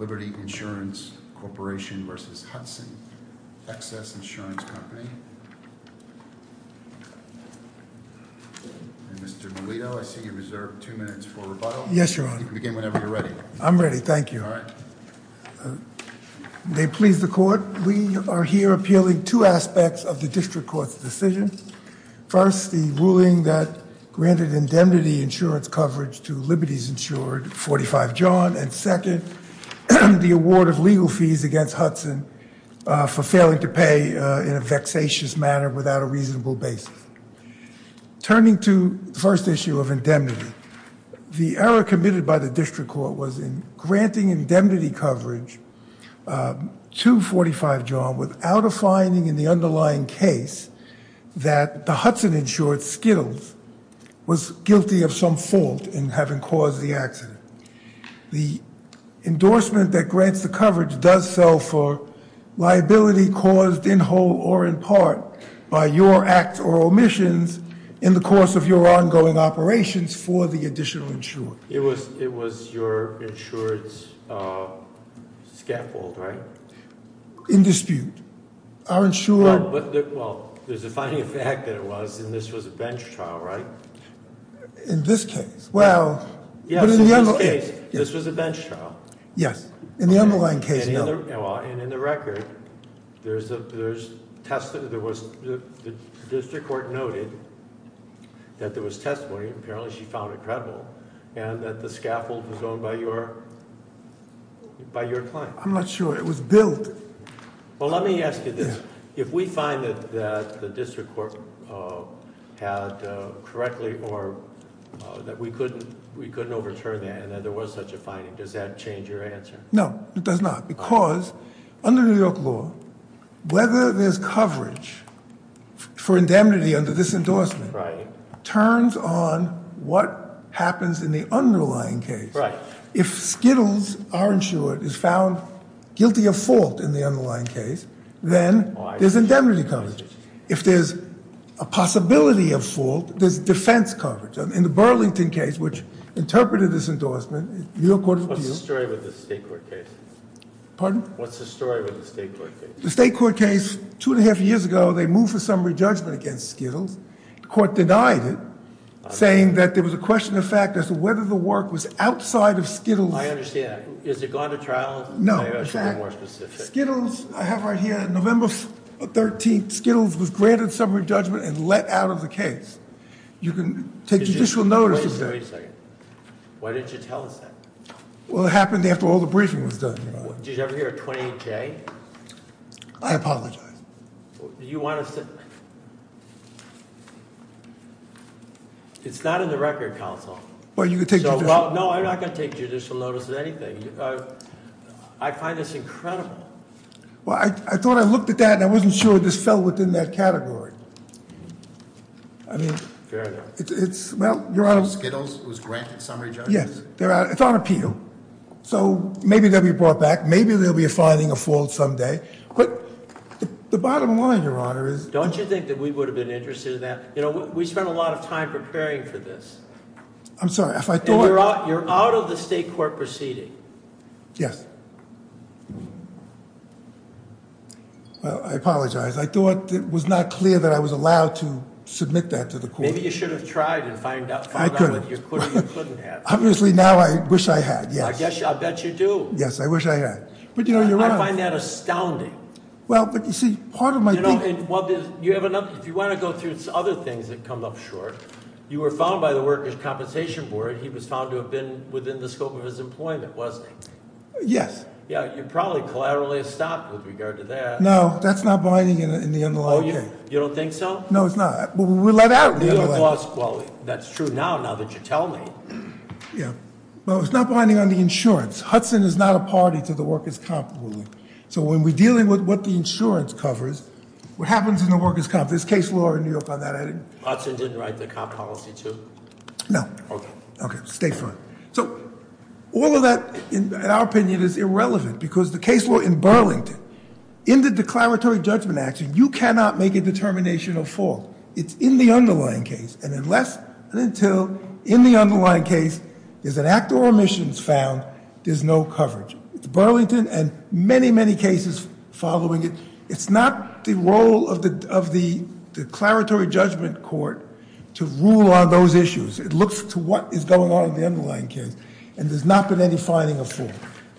Liberty Insurance Corporation v. Hudson Excess Insurance Company And Mr. Milito, I see you reserve two minutes for rebuttal. Yes, Your Honor. You can begin whenever you're ready. I'm ready, thank you. All right. May it please the Court, we are here appealing two aspects of the District Court's decision. First, the ruling that granted indemnity insurance coverage to Liberties Insured 45 John, and second, the award of legal fees against Hudson for failing to pay in a vexatious manner without a reasonable basis. Turning to the first issue of indemnity, the error committed by the District Court was in granting indemnity coverage to 45 John without a finding in the underlying case that the Hudson insured skittles was guilty of some fault in having caused the accident. The endorsement that grants the coverage does sell for liability caused in whole or in part by your act or omissions in the course of your ongoing operations for the additional insurer. It was your insured scaffold, right? In dispute. Our insurer- Well, there's a finding of fact that it was, and this was a bench trial, right? In this case, well- Yes, in this case, this was a bench trial. Yes, in the underlying case, no. And in the record, the District Court noted that there was testimony, apparently she found it credible, and that the scaffold was owned by your client. I'm not sure. It was built. Well, let me ask you this. If we find that the District Court had correctly or that we couldn't overturn that and that there was such a finding, does that change your answer? No, it does not, because under New York law, whether there's coverage for indemnity under this endorsement- Right. Turns on what happens in the underlying case. Right. If Skittles, our insurer, is found guilty of fault in the underlying case, then there's indemnity coverage. If there's a possibility of fault, there's defense coverage. In the Burlington case, which interpreted this endorsement, New York court- What's the story with the state court case? Pardon? What's the story with the state court case? The state court case, two and a half years ago, they moved for summary judgment against Skittles. The court denied it, saying that there was a question of fact as to whether the work was outside of Skittles- I understand. Has it gone to trial? Skittles, I have right here, November 13th, Skittles was granted summary judgment and let out of the case. You can take judicial notice of that. Wait a second. Why didn't you tell us that? Well, it happened after all the briefing was done. Did you ever hear a 28-J? I apologize. You want us to- It's not in the record, counsel. Well, you can take judicial- No, I'm not going to take judicial notice of anything. I find this incredible. Well, I thought I looked at that and I wasn't sure this fell within that category. Fair enough. Well, your Honor- Skittles was granted summary judgment? Yes. It's on appeal. So, maybe they'll be brought back. Maybe they'll be finding a fault someday. The bottom line, your Honor, is- Don't you think that we would have been interested in that? We spent a lot of time preparing for this. I'm sorry, if I thought- You're out of the state court proceeding. Yes. Well, I apologize. I thought it was not clear that I was allowed to submit that to the court. Maybe you should have tried and found out what you couldn't have. Obviously, now I wish I had, yes. I bet you do. Yes, I wish I had. But, your Honor- I find that astounding. Well, but you see, part of my- If you want to go through other things that come up short, you were found by the Workers' Compensation Board. He was found to have been within the scope of his employment, wasn't he? Yes. Yeah, you're probably collaterally stopped with regard to that. No, that's not binding in the underlying case. You don't think so? No, it's not. We're let out in the underlying case. Well, that's true now, now that you tell me. Yeah. Well, it's not binding on the insurance. Hudson is not a party to the Workers' Comp ruling. So, when we're dealing with what the insurance covers, what happens in the Workers' Comp- there's case law in New York on that. Hudson didn't write the comp policy, too? No. Okay. Okay, stay front. So, all of that, in our opinion, is irrelevant, because the case law in Burlington, in the declaratory judgment action, you cannot make a determination of fault. It's in the underlying case. And unless and until, in the underlying case, there's an act or omissions found, there's no coverage. Burlington, and many, many cases following it, it's not the role of the declaratory judgment court to rule on those issues. It looks to what is going on in the underlying case, and there's not been any finding of fault.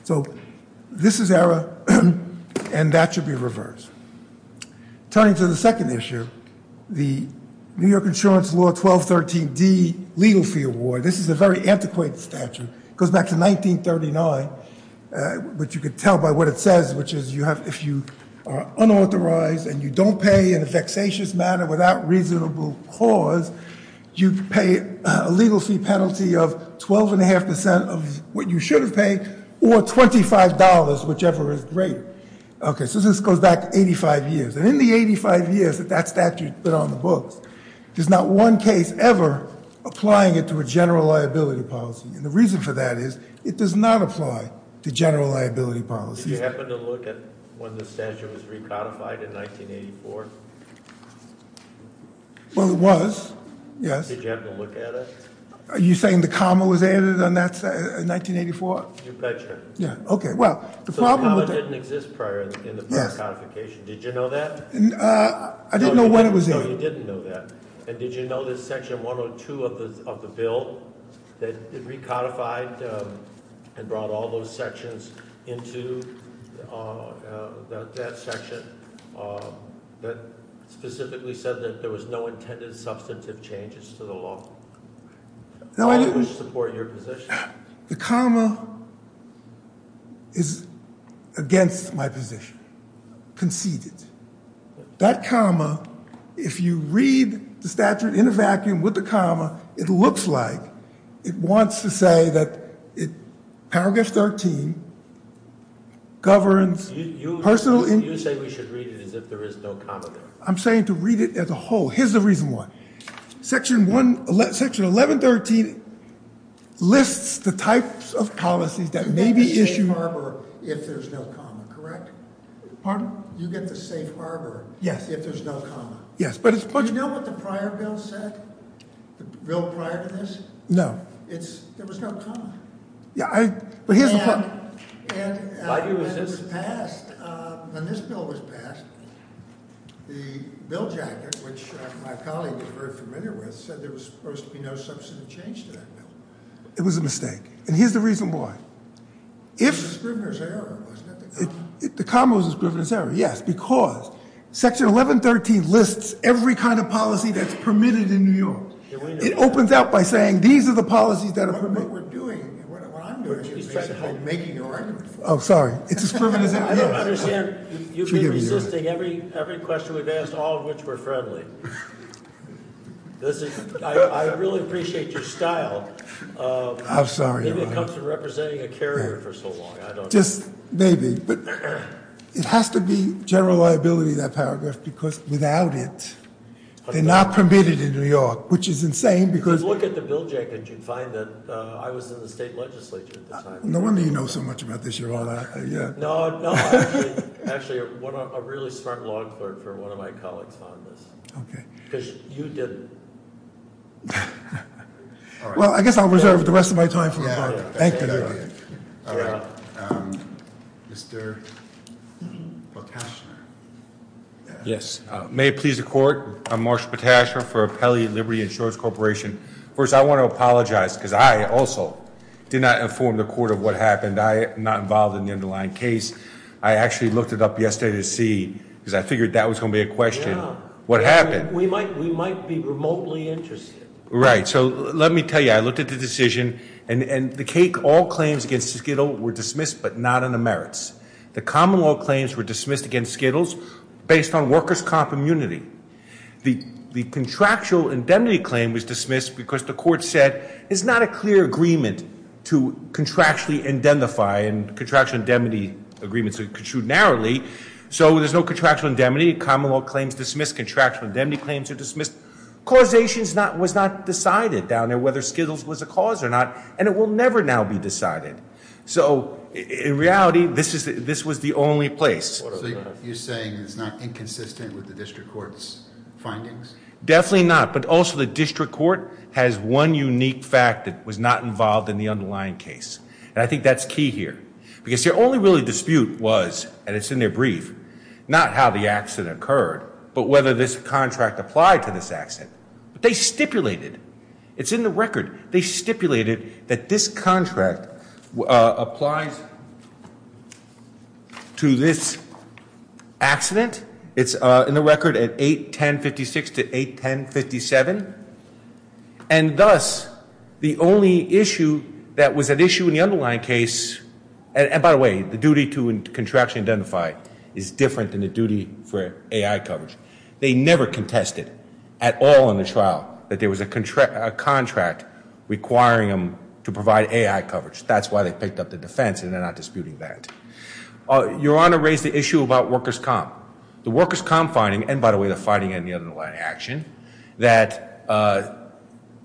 So, this is error, and that should be reversed. Turning to the second issue, the New York Insurance Law 1213D Legal Fee Award, this is a very antiquated statute. It goes back to 1939, which you could tell by what it says, which is if you are unauthorized and you don't pay in a vexatious manner without reasonable cause, you pay a legal fee penalty of 12.5% of what you should have paid, or $25, whichever is greater. Okay, so this goes back 85 years. And in the 85 years that that statute's been on the books, there's not one case ever applying it to a general liability policy. And the reason for that is it does not apply to general liability policies. Did you happen to look at when the statute was recodified in 1984? Well, it was, yes. Did you happen to look at it? Are you saying the comma was added in 1984? You betcha. Yeah, okay. So the comma didn't exist prior in the precodification. Did you know that? I didn't know when it was added. No, you didn't know that. And did you know that Section 102 of the bill that recodified and brought all those sections into that section that specifically said that there was no intended substantive changes to the law? Why would you support your position? The comma is against my position, conceded. That comma, if you read the statute in a vacuum with the comma, it looks like it wants to say that Power Guess 13 governs personal. You say we should read it as if there is no comma there. I'm saying to read it as a whole. Here's the reason why. Section 1113 lists the types of policies that may be issued. You get the safe harbor if there's no comma, correct? Pardon? You get the safe harbor if there's no comma. Yes. Do you know what the prior bill said, the bill prior to this? No. There was no comma. And when this bill was passed, the bill jacket, which my colleague was very familiar with, said there was supposed to be no substantive change to that bill. It was a mistake. And here's the reason why. It was a scrivener's error, wasn't it? The comma was a scrivener's error, yes, because Section 1113 lists every kind of policy that's permitted in New York. It opens out by saying these are the policies that are permitted. What we're doing and what I'm doing is basically making your argument. Oh, sorry. It's a scrivener's error. I don't understand. You've been resisting every question we've asked, all of which were friendly. I really appreciate your style. I'm sorry. Maybe it comes from representing a carrier for so long. Just maybe. But it has to be general liability, that paragraph, because without it, they're not permitted in New York, which is insane. Because look at the bill jacket. You'd find that I was in the state legislature at the time. No wonder you know so much about this, Your Honor. No, no. Actually, a really smart law clerk for one of my colleagues found this. Okay. Because you didn't. Well, I guess I'll reserve the rest of my time for the court. Thank you, Your Honor. All right. Mr. Potashner. Yes. May it please the court. I'm Marshall Potashner for Appellate Liberty Insurance Corporation. First, I want to apologize because I also did not inform the court of what happened. I am not involved in the underlying case. I actually looked it up yesterday to see because I figured that was going to be a question. Yeah. What happened? We might be remotely interested. Right. So let me tell you. I looked at the decision. And the cake, all claims against Skittle were dismissed but not on the merits. The common law claims were dismissed against Skittles based on workers' comp immunity. The contractual indemnity claim was dismissed because the court said it's not a clear agreement to contractually identify and contractual indemnity agreements are construed narrowly. So there's no contractual indemnity. Common law claims dismissed. Contractual indemnity claims are dismissed. Causation was not decided down there whether Skittles was a cause or not. And it will never now be decided. So, in reality, this was the only place. So you're saying it's not inconsistent with the district court's findings? Definitely not. But also the district court has one unique fact that was not involved in the underlying case. And I think that's key here. Because their only really dispute was, and it's in their brief, not how the accident occurred, but whether this contract applied to this accident. But they stipulated, it's in the record, they stipulated that this contract applies to this accident. It's in the record at 8-1056 to 8-1057. And thus, the only issue that was an issue in the underlying case, and by the way, the duty to contractually identify is different than the duty for AI coverage. They never contested at all in the trial that there was a contract requiring them to provide AI coverage. That's why they picked up the defense, and they're not disputing that. Your Honor raised the issue about workers' comp. The workers' comp finding, and by the way, the finding in the underlying action, that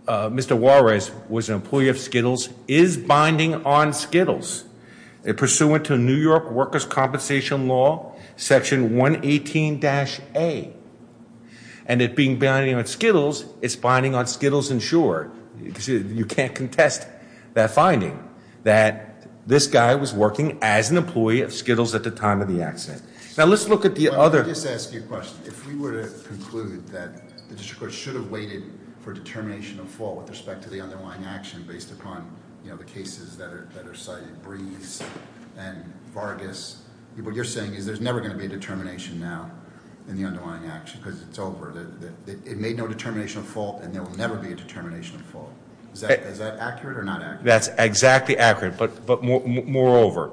Mr. Juarez was an employee of Skittles, is binding on Skittles. Pursuant to New York workers' compensation law, section 118-A. And it being binding on Skittles, it's binding on Skittles insured. You can't contest that finding, that this guy was working as an employee of Skittles at the time of the accident. Now, let's look at the other- Well, let me just ask you a question. If we were to conclude that the district court should have waited for determination of fault with respect to the underlying action based upon the cases that are cited, Brees and Vargas, what you're saying is there's never going to be a determination now in the underlying action because it's over. It made no determination of fault, and there will never be a determination of fault. Is that accurate or not accurate? That's exactly accurate. But moreover,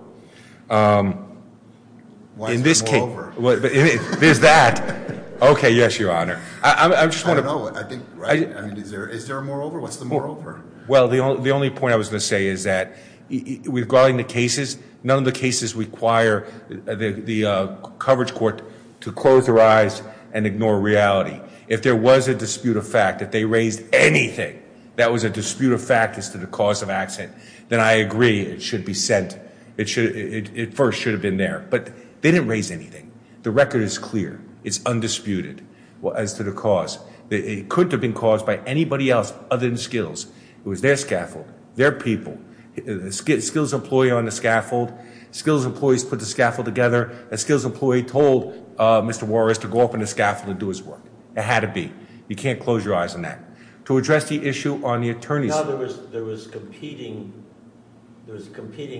in this case- What's the moreover? There's that. Okay, yes, Your Honor. I just want to- I don't know. Is there a moreover? What's the moreover? Well, the only point I was going to say is that regarding the cases, none of the cases require the coverage court to close their eyes and ignore reality. If there was a dispute of fact, if they raised anything that was a dispute of fact as to the cause of accident, then I agree it should be sent. It first should have been there. But they didn't raise anything. The record is clear. It's undisputed as to the cause. It couldn't have been caused by anybody else other than Skills. It was their scaffold, their people. Skills' employee on the scaffold, Skills' employees put the scaffold together, and Skills' employee told Mr. Warris to go up on the scaffold and do his work. It had to be. You can't close your eyes on that. To address the issue on the attorney's- I know there was competing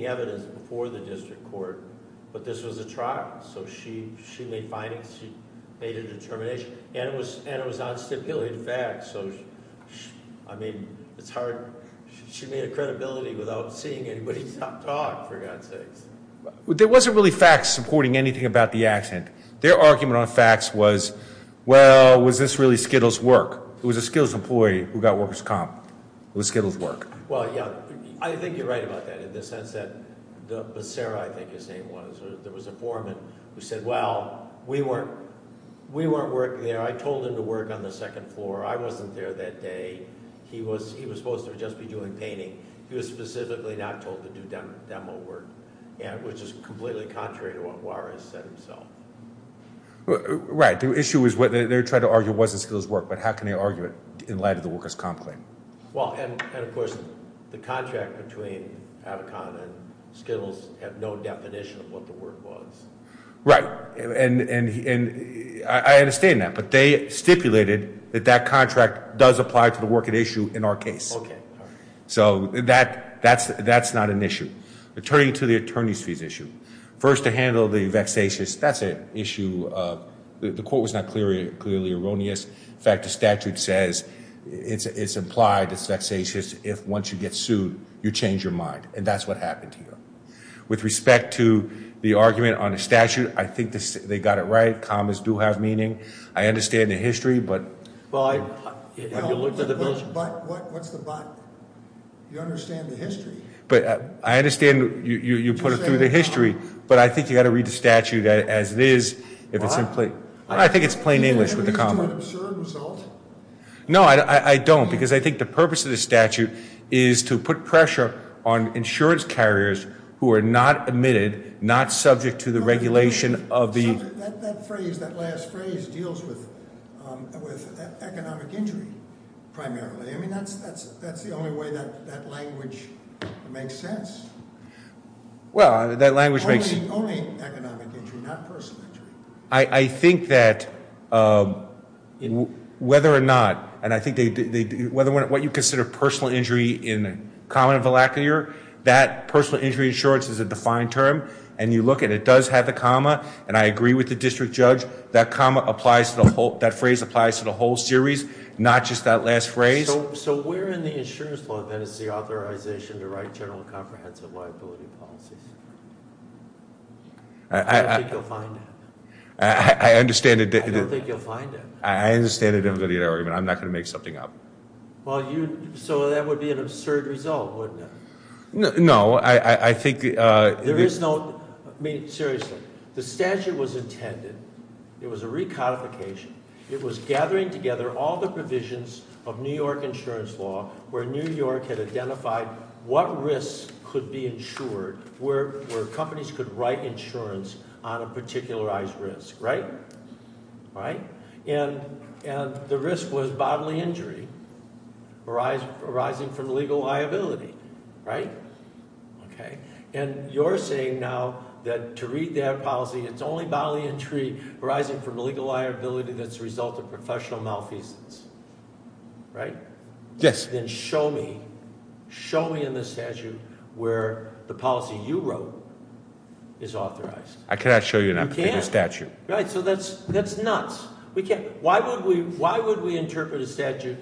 evidence before the district court, but this was a trial, so she made findings, she made a determination, and it was on stipulated facts. So, I mean, it's hard. She made a credibility without seeing anybody talk, for God's sakes. There wasn't really facts supporting anything about the accident. Their argument on facts was, well, was this really Skills' work? It was a Skills' employee who got workers' comp. It was Skills' work. Well, yeah, I think you're right about that in the sense that Sarah, I think, is saying there was a foreman who said, well, we weren't working there. I told him to work on the second floor. I wasn't there that day. He was supposed to just be doing painting. He was specifically not told to do demo work, which is completely contrary to what Warris said himself. Right. The issue is what they're trying to argue wasn't Skills' work, but how can they argue it in light of the workers' comp claim? Well, and, of course, the contract between Avicon and Skills had no definition of what the work was. Right, and I understand that, but they stipulated that that contract does apply to the work at issue in our case. Okay, all right. So that's not an issue. Turning to the attorney's fees issue, first to handle the vexatious, that's an issue. The quote was not clearly erroneous. In fact, the statute says it's implied it's vexatious if once you get sued, you change your mind, and that's what happened here. With respect to the argument on the statute, I think they got it right. Commas do have meaning. I understand the history, but- But, what's the but? You understand the history. But I understand you put it through the history. But I think you've got to read the statute as it is, if it's in plain- Why? I think it's plain English with the comma. Does it lead to an absurd result? No, I don't, because I think the purpose of the statute is to put pressure on insurance carriers who are not admitted, not subject to the regulation of the- That phrase, that last phrase, deals with economic injury, primarily. I mean, that's the only way that language makes sense. Well, that language makes- Only economic injury, not personal injury. I think that whether or not, and I think what you consider personal injury in common of the lacklier, that personal injury insurance is a defined term. And you look at it, it does have the comma, and I agree with the district judge. That phrase applies to the whole series, not just that last phrase. So where in the insurance law, then, is the authorization to write general and comprehensive liability policies? I don't think you'll find it. I understand the- I don't think you'll find it. I understand the difficulty of the argument. I'm not going to make something up. So that would be an absurd result, wouldn't it? No, I think- There is no- I mean, seriously. The statute was intended, it was a recodification. It was gathering together all the provisions of New York insurance law where New York had identified what risks could be insured where companies could write insurance on a particularized risk. Right? And the risk was bodily injury arising from legal liability. Right? And you're saying now that to read that policy, it's only bodily injury arising from legal liability that's a result of professional malfeasance. Right? Yes. Then show me, show me in the statute where the policy you wrote is authorized. I cannot show you in a particular statute. You can't. Right, so that's nuts. Why would we interpret a statute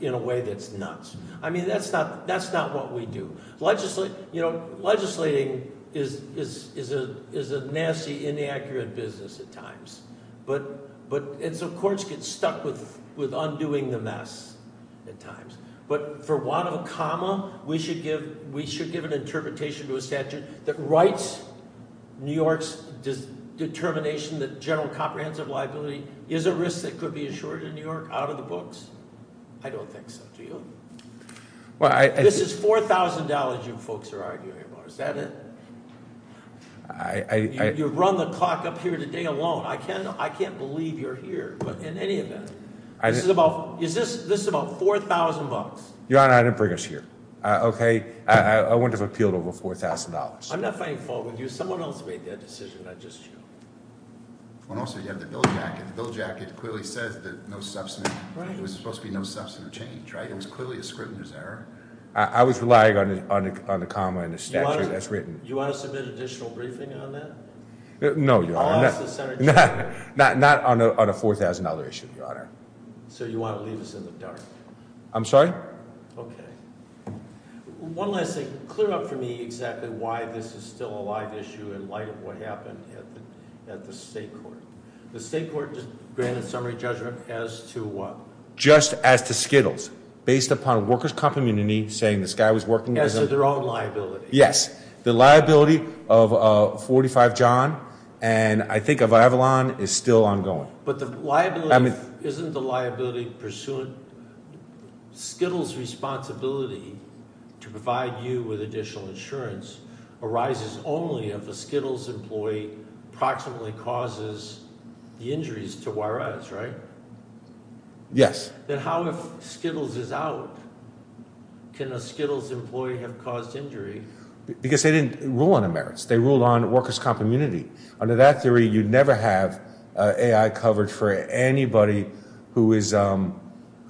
in a way that's nuts? I mean, that's not what we do. You know, legislating is a nasty, inaccurate business at times. And so courts get stuck with undoing the mess at times. But for want of a comma, we should give an interpretation to a statute that writes New York's determination that general comprehensive liability is a risk that could be insured in New York out of the books? I don't think so. Do you? This is $4,000 you folks are arguing about. Is that it? You've run the clock up here today alone. I can't believe you're here. But in any event, this is about $4,000. Your Honor, I didn't bring us here. Okay? I wouldn't have appealed over $4,000. I'm not finding fault with you. Someone else made that decision. I'm just joking. And also you have the bill jacket. The bill jacket clearly says no substantive change. It was supposed to be no substantive change, right? It was clearly a scrutinous error. I was relying on the comma and the statute that's written. You want to submit an additional briefing on that? No, Your Honor. Not on a $4,000 issue, Your Honor. So you want to leave us in the dark? I'm sorry? Okay. One last thing. Clear up for me exactly why this is still a live issue in light of what happened at the state court. The state court just granted summary judgment as to what? Just as to Skittles. Based upon workers' company saying this guy was working as a- As to their own liability. Yes. The liability of 45 John and I think of Avalon is still ongoing. But the liability- I mean- Skittles' responsibility to provide you with additional insurance arises only if a Skittles employee approximately causes the injuries to wire us, right? Yes. Then how, if Skittles is out, can a Skittles employee have caused injury? Because they didn't rule on the merits. They ruled on workers' comp immunity. Under that theory, you'd never have AI coverage for anybody who is an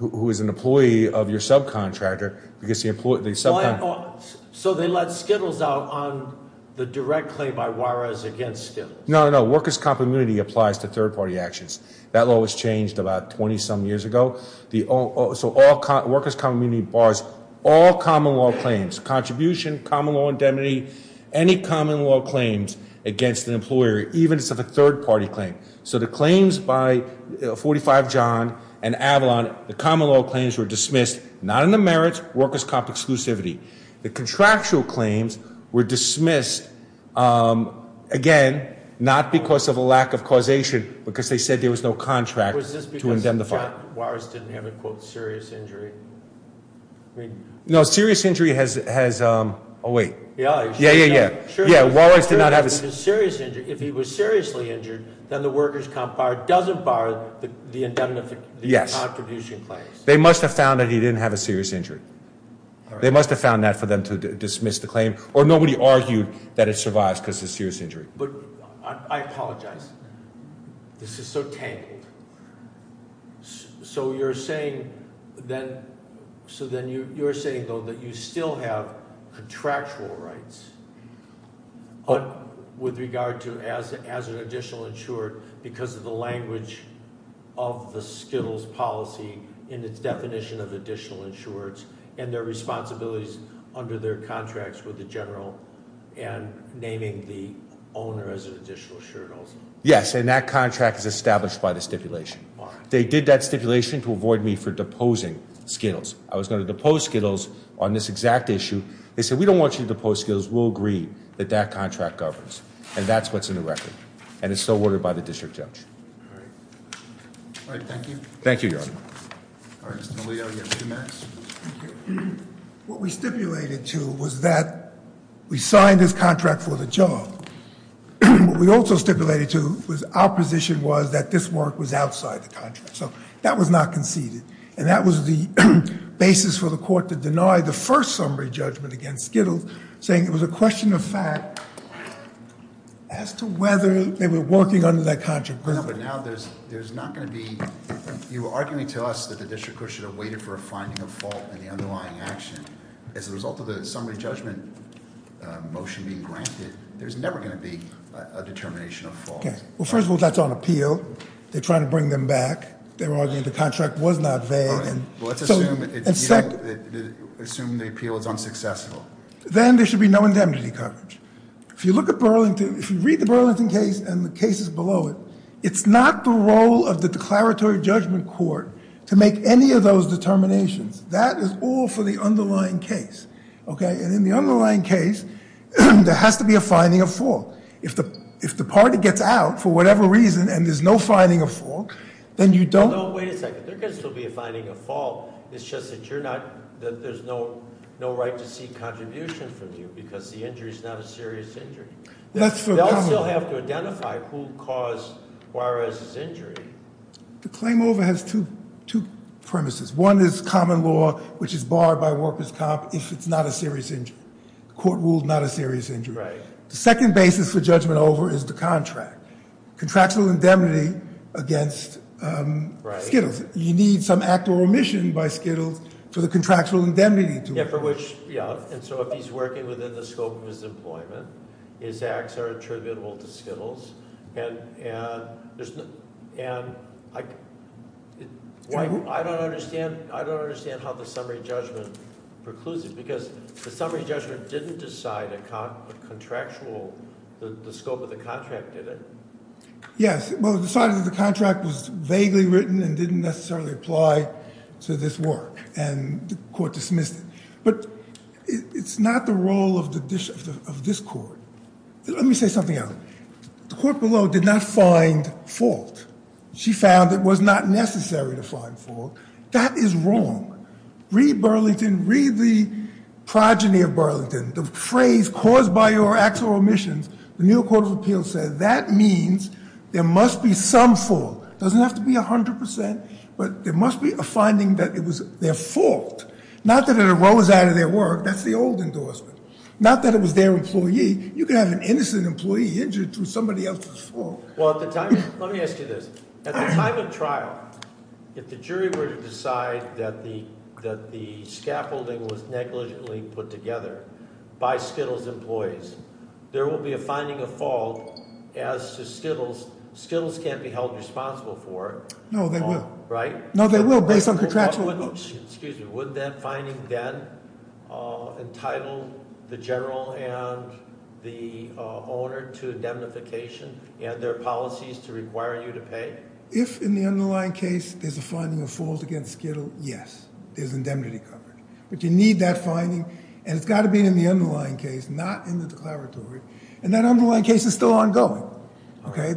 employee of your subcontractor because the subcontractor- So they let Skittles out on the direct claim by wire us against Skittles. No, no, no. Workers' comp immunity applies to third-party actions. That law was changed about 20-some years ago. So workers' comp immunity bars all common law claims, contribution, common law indemnity, any common law claims against an employer, even if it's a third-party claim. So the claims by 45 John and Avalon, the common law claims were dismissed, not in the merits, workers' comp exclusivity. The contractual claims were dismissed, again, not because of a lack of causation, because they said there was no contract to indemnify. So Walrus didn't have a, quote, serious injury? No, serious injury has- oh, wait. Yeah, yeah, yeah. Yeah, Walrus did not have a- If he was seriously injured, then the workers' comp bar doesn't bar the indemnification- Yes. The contribution claims. They must have found that he didn't have a serious injury. They must have found that for them to dismiss the claim. Or nobody argued that it survives because it's a serious injury. But I apologize. This is so tangled. So you're saying then- so then you're saying, though, that you still have contractual rights with regard to as an additional insured because of the language of the Skittles policy and its definition of additional insureds and their responsibilities under their contracts with the general and naming the owner as an additional insured also? Yes, and that contract is established by the stipulation. They did that stipulation to avoid me for deposing Skittles. I was going to depose Skittles on this exact issue. They said, we don't want you to depose Skittles. We'll agree that that contract governs. And that's what's in the record. And it's still ordered by the district judge. All right. All right, thank you. Thank you, Your Honor. All right, Mr. DeLeo, you have two minutes. Thank you. What we stipulated to was that we signed this contract for the job. What we also stipulated to was our position was that this work was outside the contract. So that was not conceded. And that was the basis for the court to deny the first summary judgment against Skittles, saying it was a question of fact as to whether they were working under that contract. But now there's not going to be, you were arguing to us that the district court should have waited for a finding of fault in the underlying action. As a result of the summary judgment motion being granted, there's never going to be a determination of fault. Well, first of all, that's on appeal. They're trying to bring them back. They were arguing the contract was not vague. Let's assume the appeal is unsuccessful. Then there should be no indemnity coverage. If you look at Burlington, if you read the Burlington case and the cases below it, it's not the role of the declaratory judgment court to make any of those determinations. That is all for the underlying case. And in the underlying case, there has to be a finding of fault. If the party gets out for whatever reason and there's no finding of fault, then you don't- No, wait a second. There can still be a finding of fault. It's just that there's no right to seek contribution from you because the injury is not a serious injury. They'll still have to identify who caused Juarez's injury. The claim over has two premises. One is common law, which is barred by workers' comp if it's not a serious injury. The court ruled not a serious injury. The second basis for judgment over is the contract. Contractual indemnity against Skittles. You need some act or remission by Skittles for the contractual indemnity to- Yeah, for which-yeah. And so if he's working within the scope of his employment, his acts are attributable to Skittles. And I don't understand how the summary judgment precludes it because the summary judgment didn't decide a contractual-the scope of the contract did it. Yes, well, it decided that the contract was vaguely written and didn't necessarily apply to this work. And the court dismissed it. But it's not the role of this court. Let me say something else. The court below did not find fault. She found it was not necessary to find fault. That is wrong. Read Burlington. Read the progeny of Burlington. The phrase caused by your acts or omissions, the New York Court of Appeals said that means there must be some fault. It doesn't have to be 100%, but there must be a finding that it was their fault. Not that it arose out of their work. That's the old endorsement. Not that it was their employee. You could have an innocent employee injured through somebody else's fault. Well, at the time-let me ask you this. At the time of trial, if the jury were to decide that the scaffolding was negligently put together by Skittles' employees, there will be a finding of fault as to Skittles. Skittles can't be held responsible for it. No, they will. Right? No, they will based on contractual- Excuse me. Would that finding then entitle the general and the owner to indemnification and their policies to require you to pay? If, in the underlying case, there's a finding of fault against Skittle, yes, there's indemnity covered. But you need that finding, and it's got to be in the underlying case, not in the declaratory. And that underlying case is still ongoing. Okay?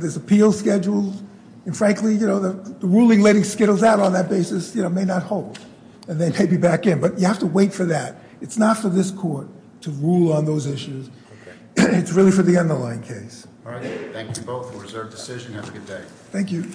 And, frankly, the ruling letting Skittles out on that basis may not hold, and they may be back in. But you have to wait for that. It's not for this court to rule on those issues. It's really for the underlying case. All right. Thank you both for a reserved decision. Have a good day. Thank you.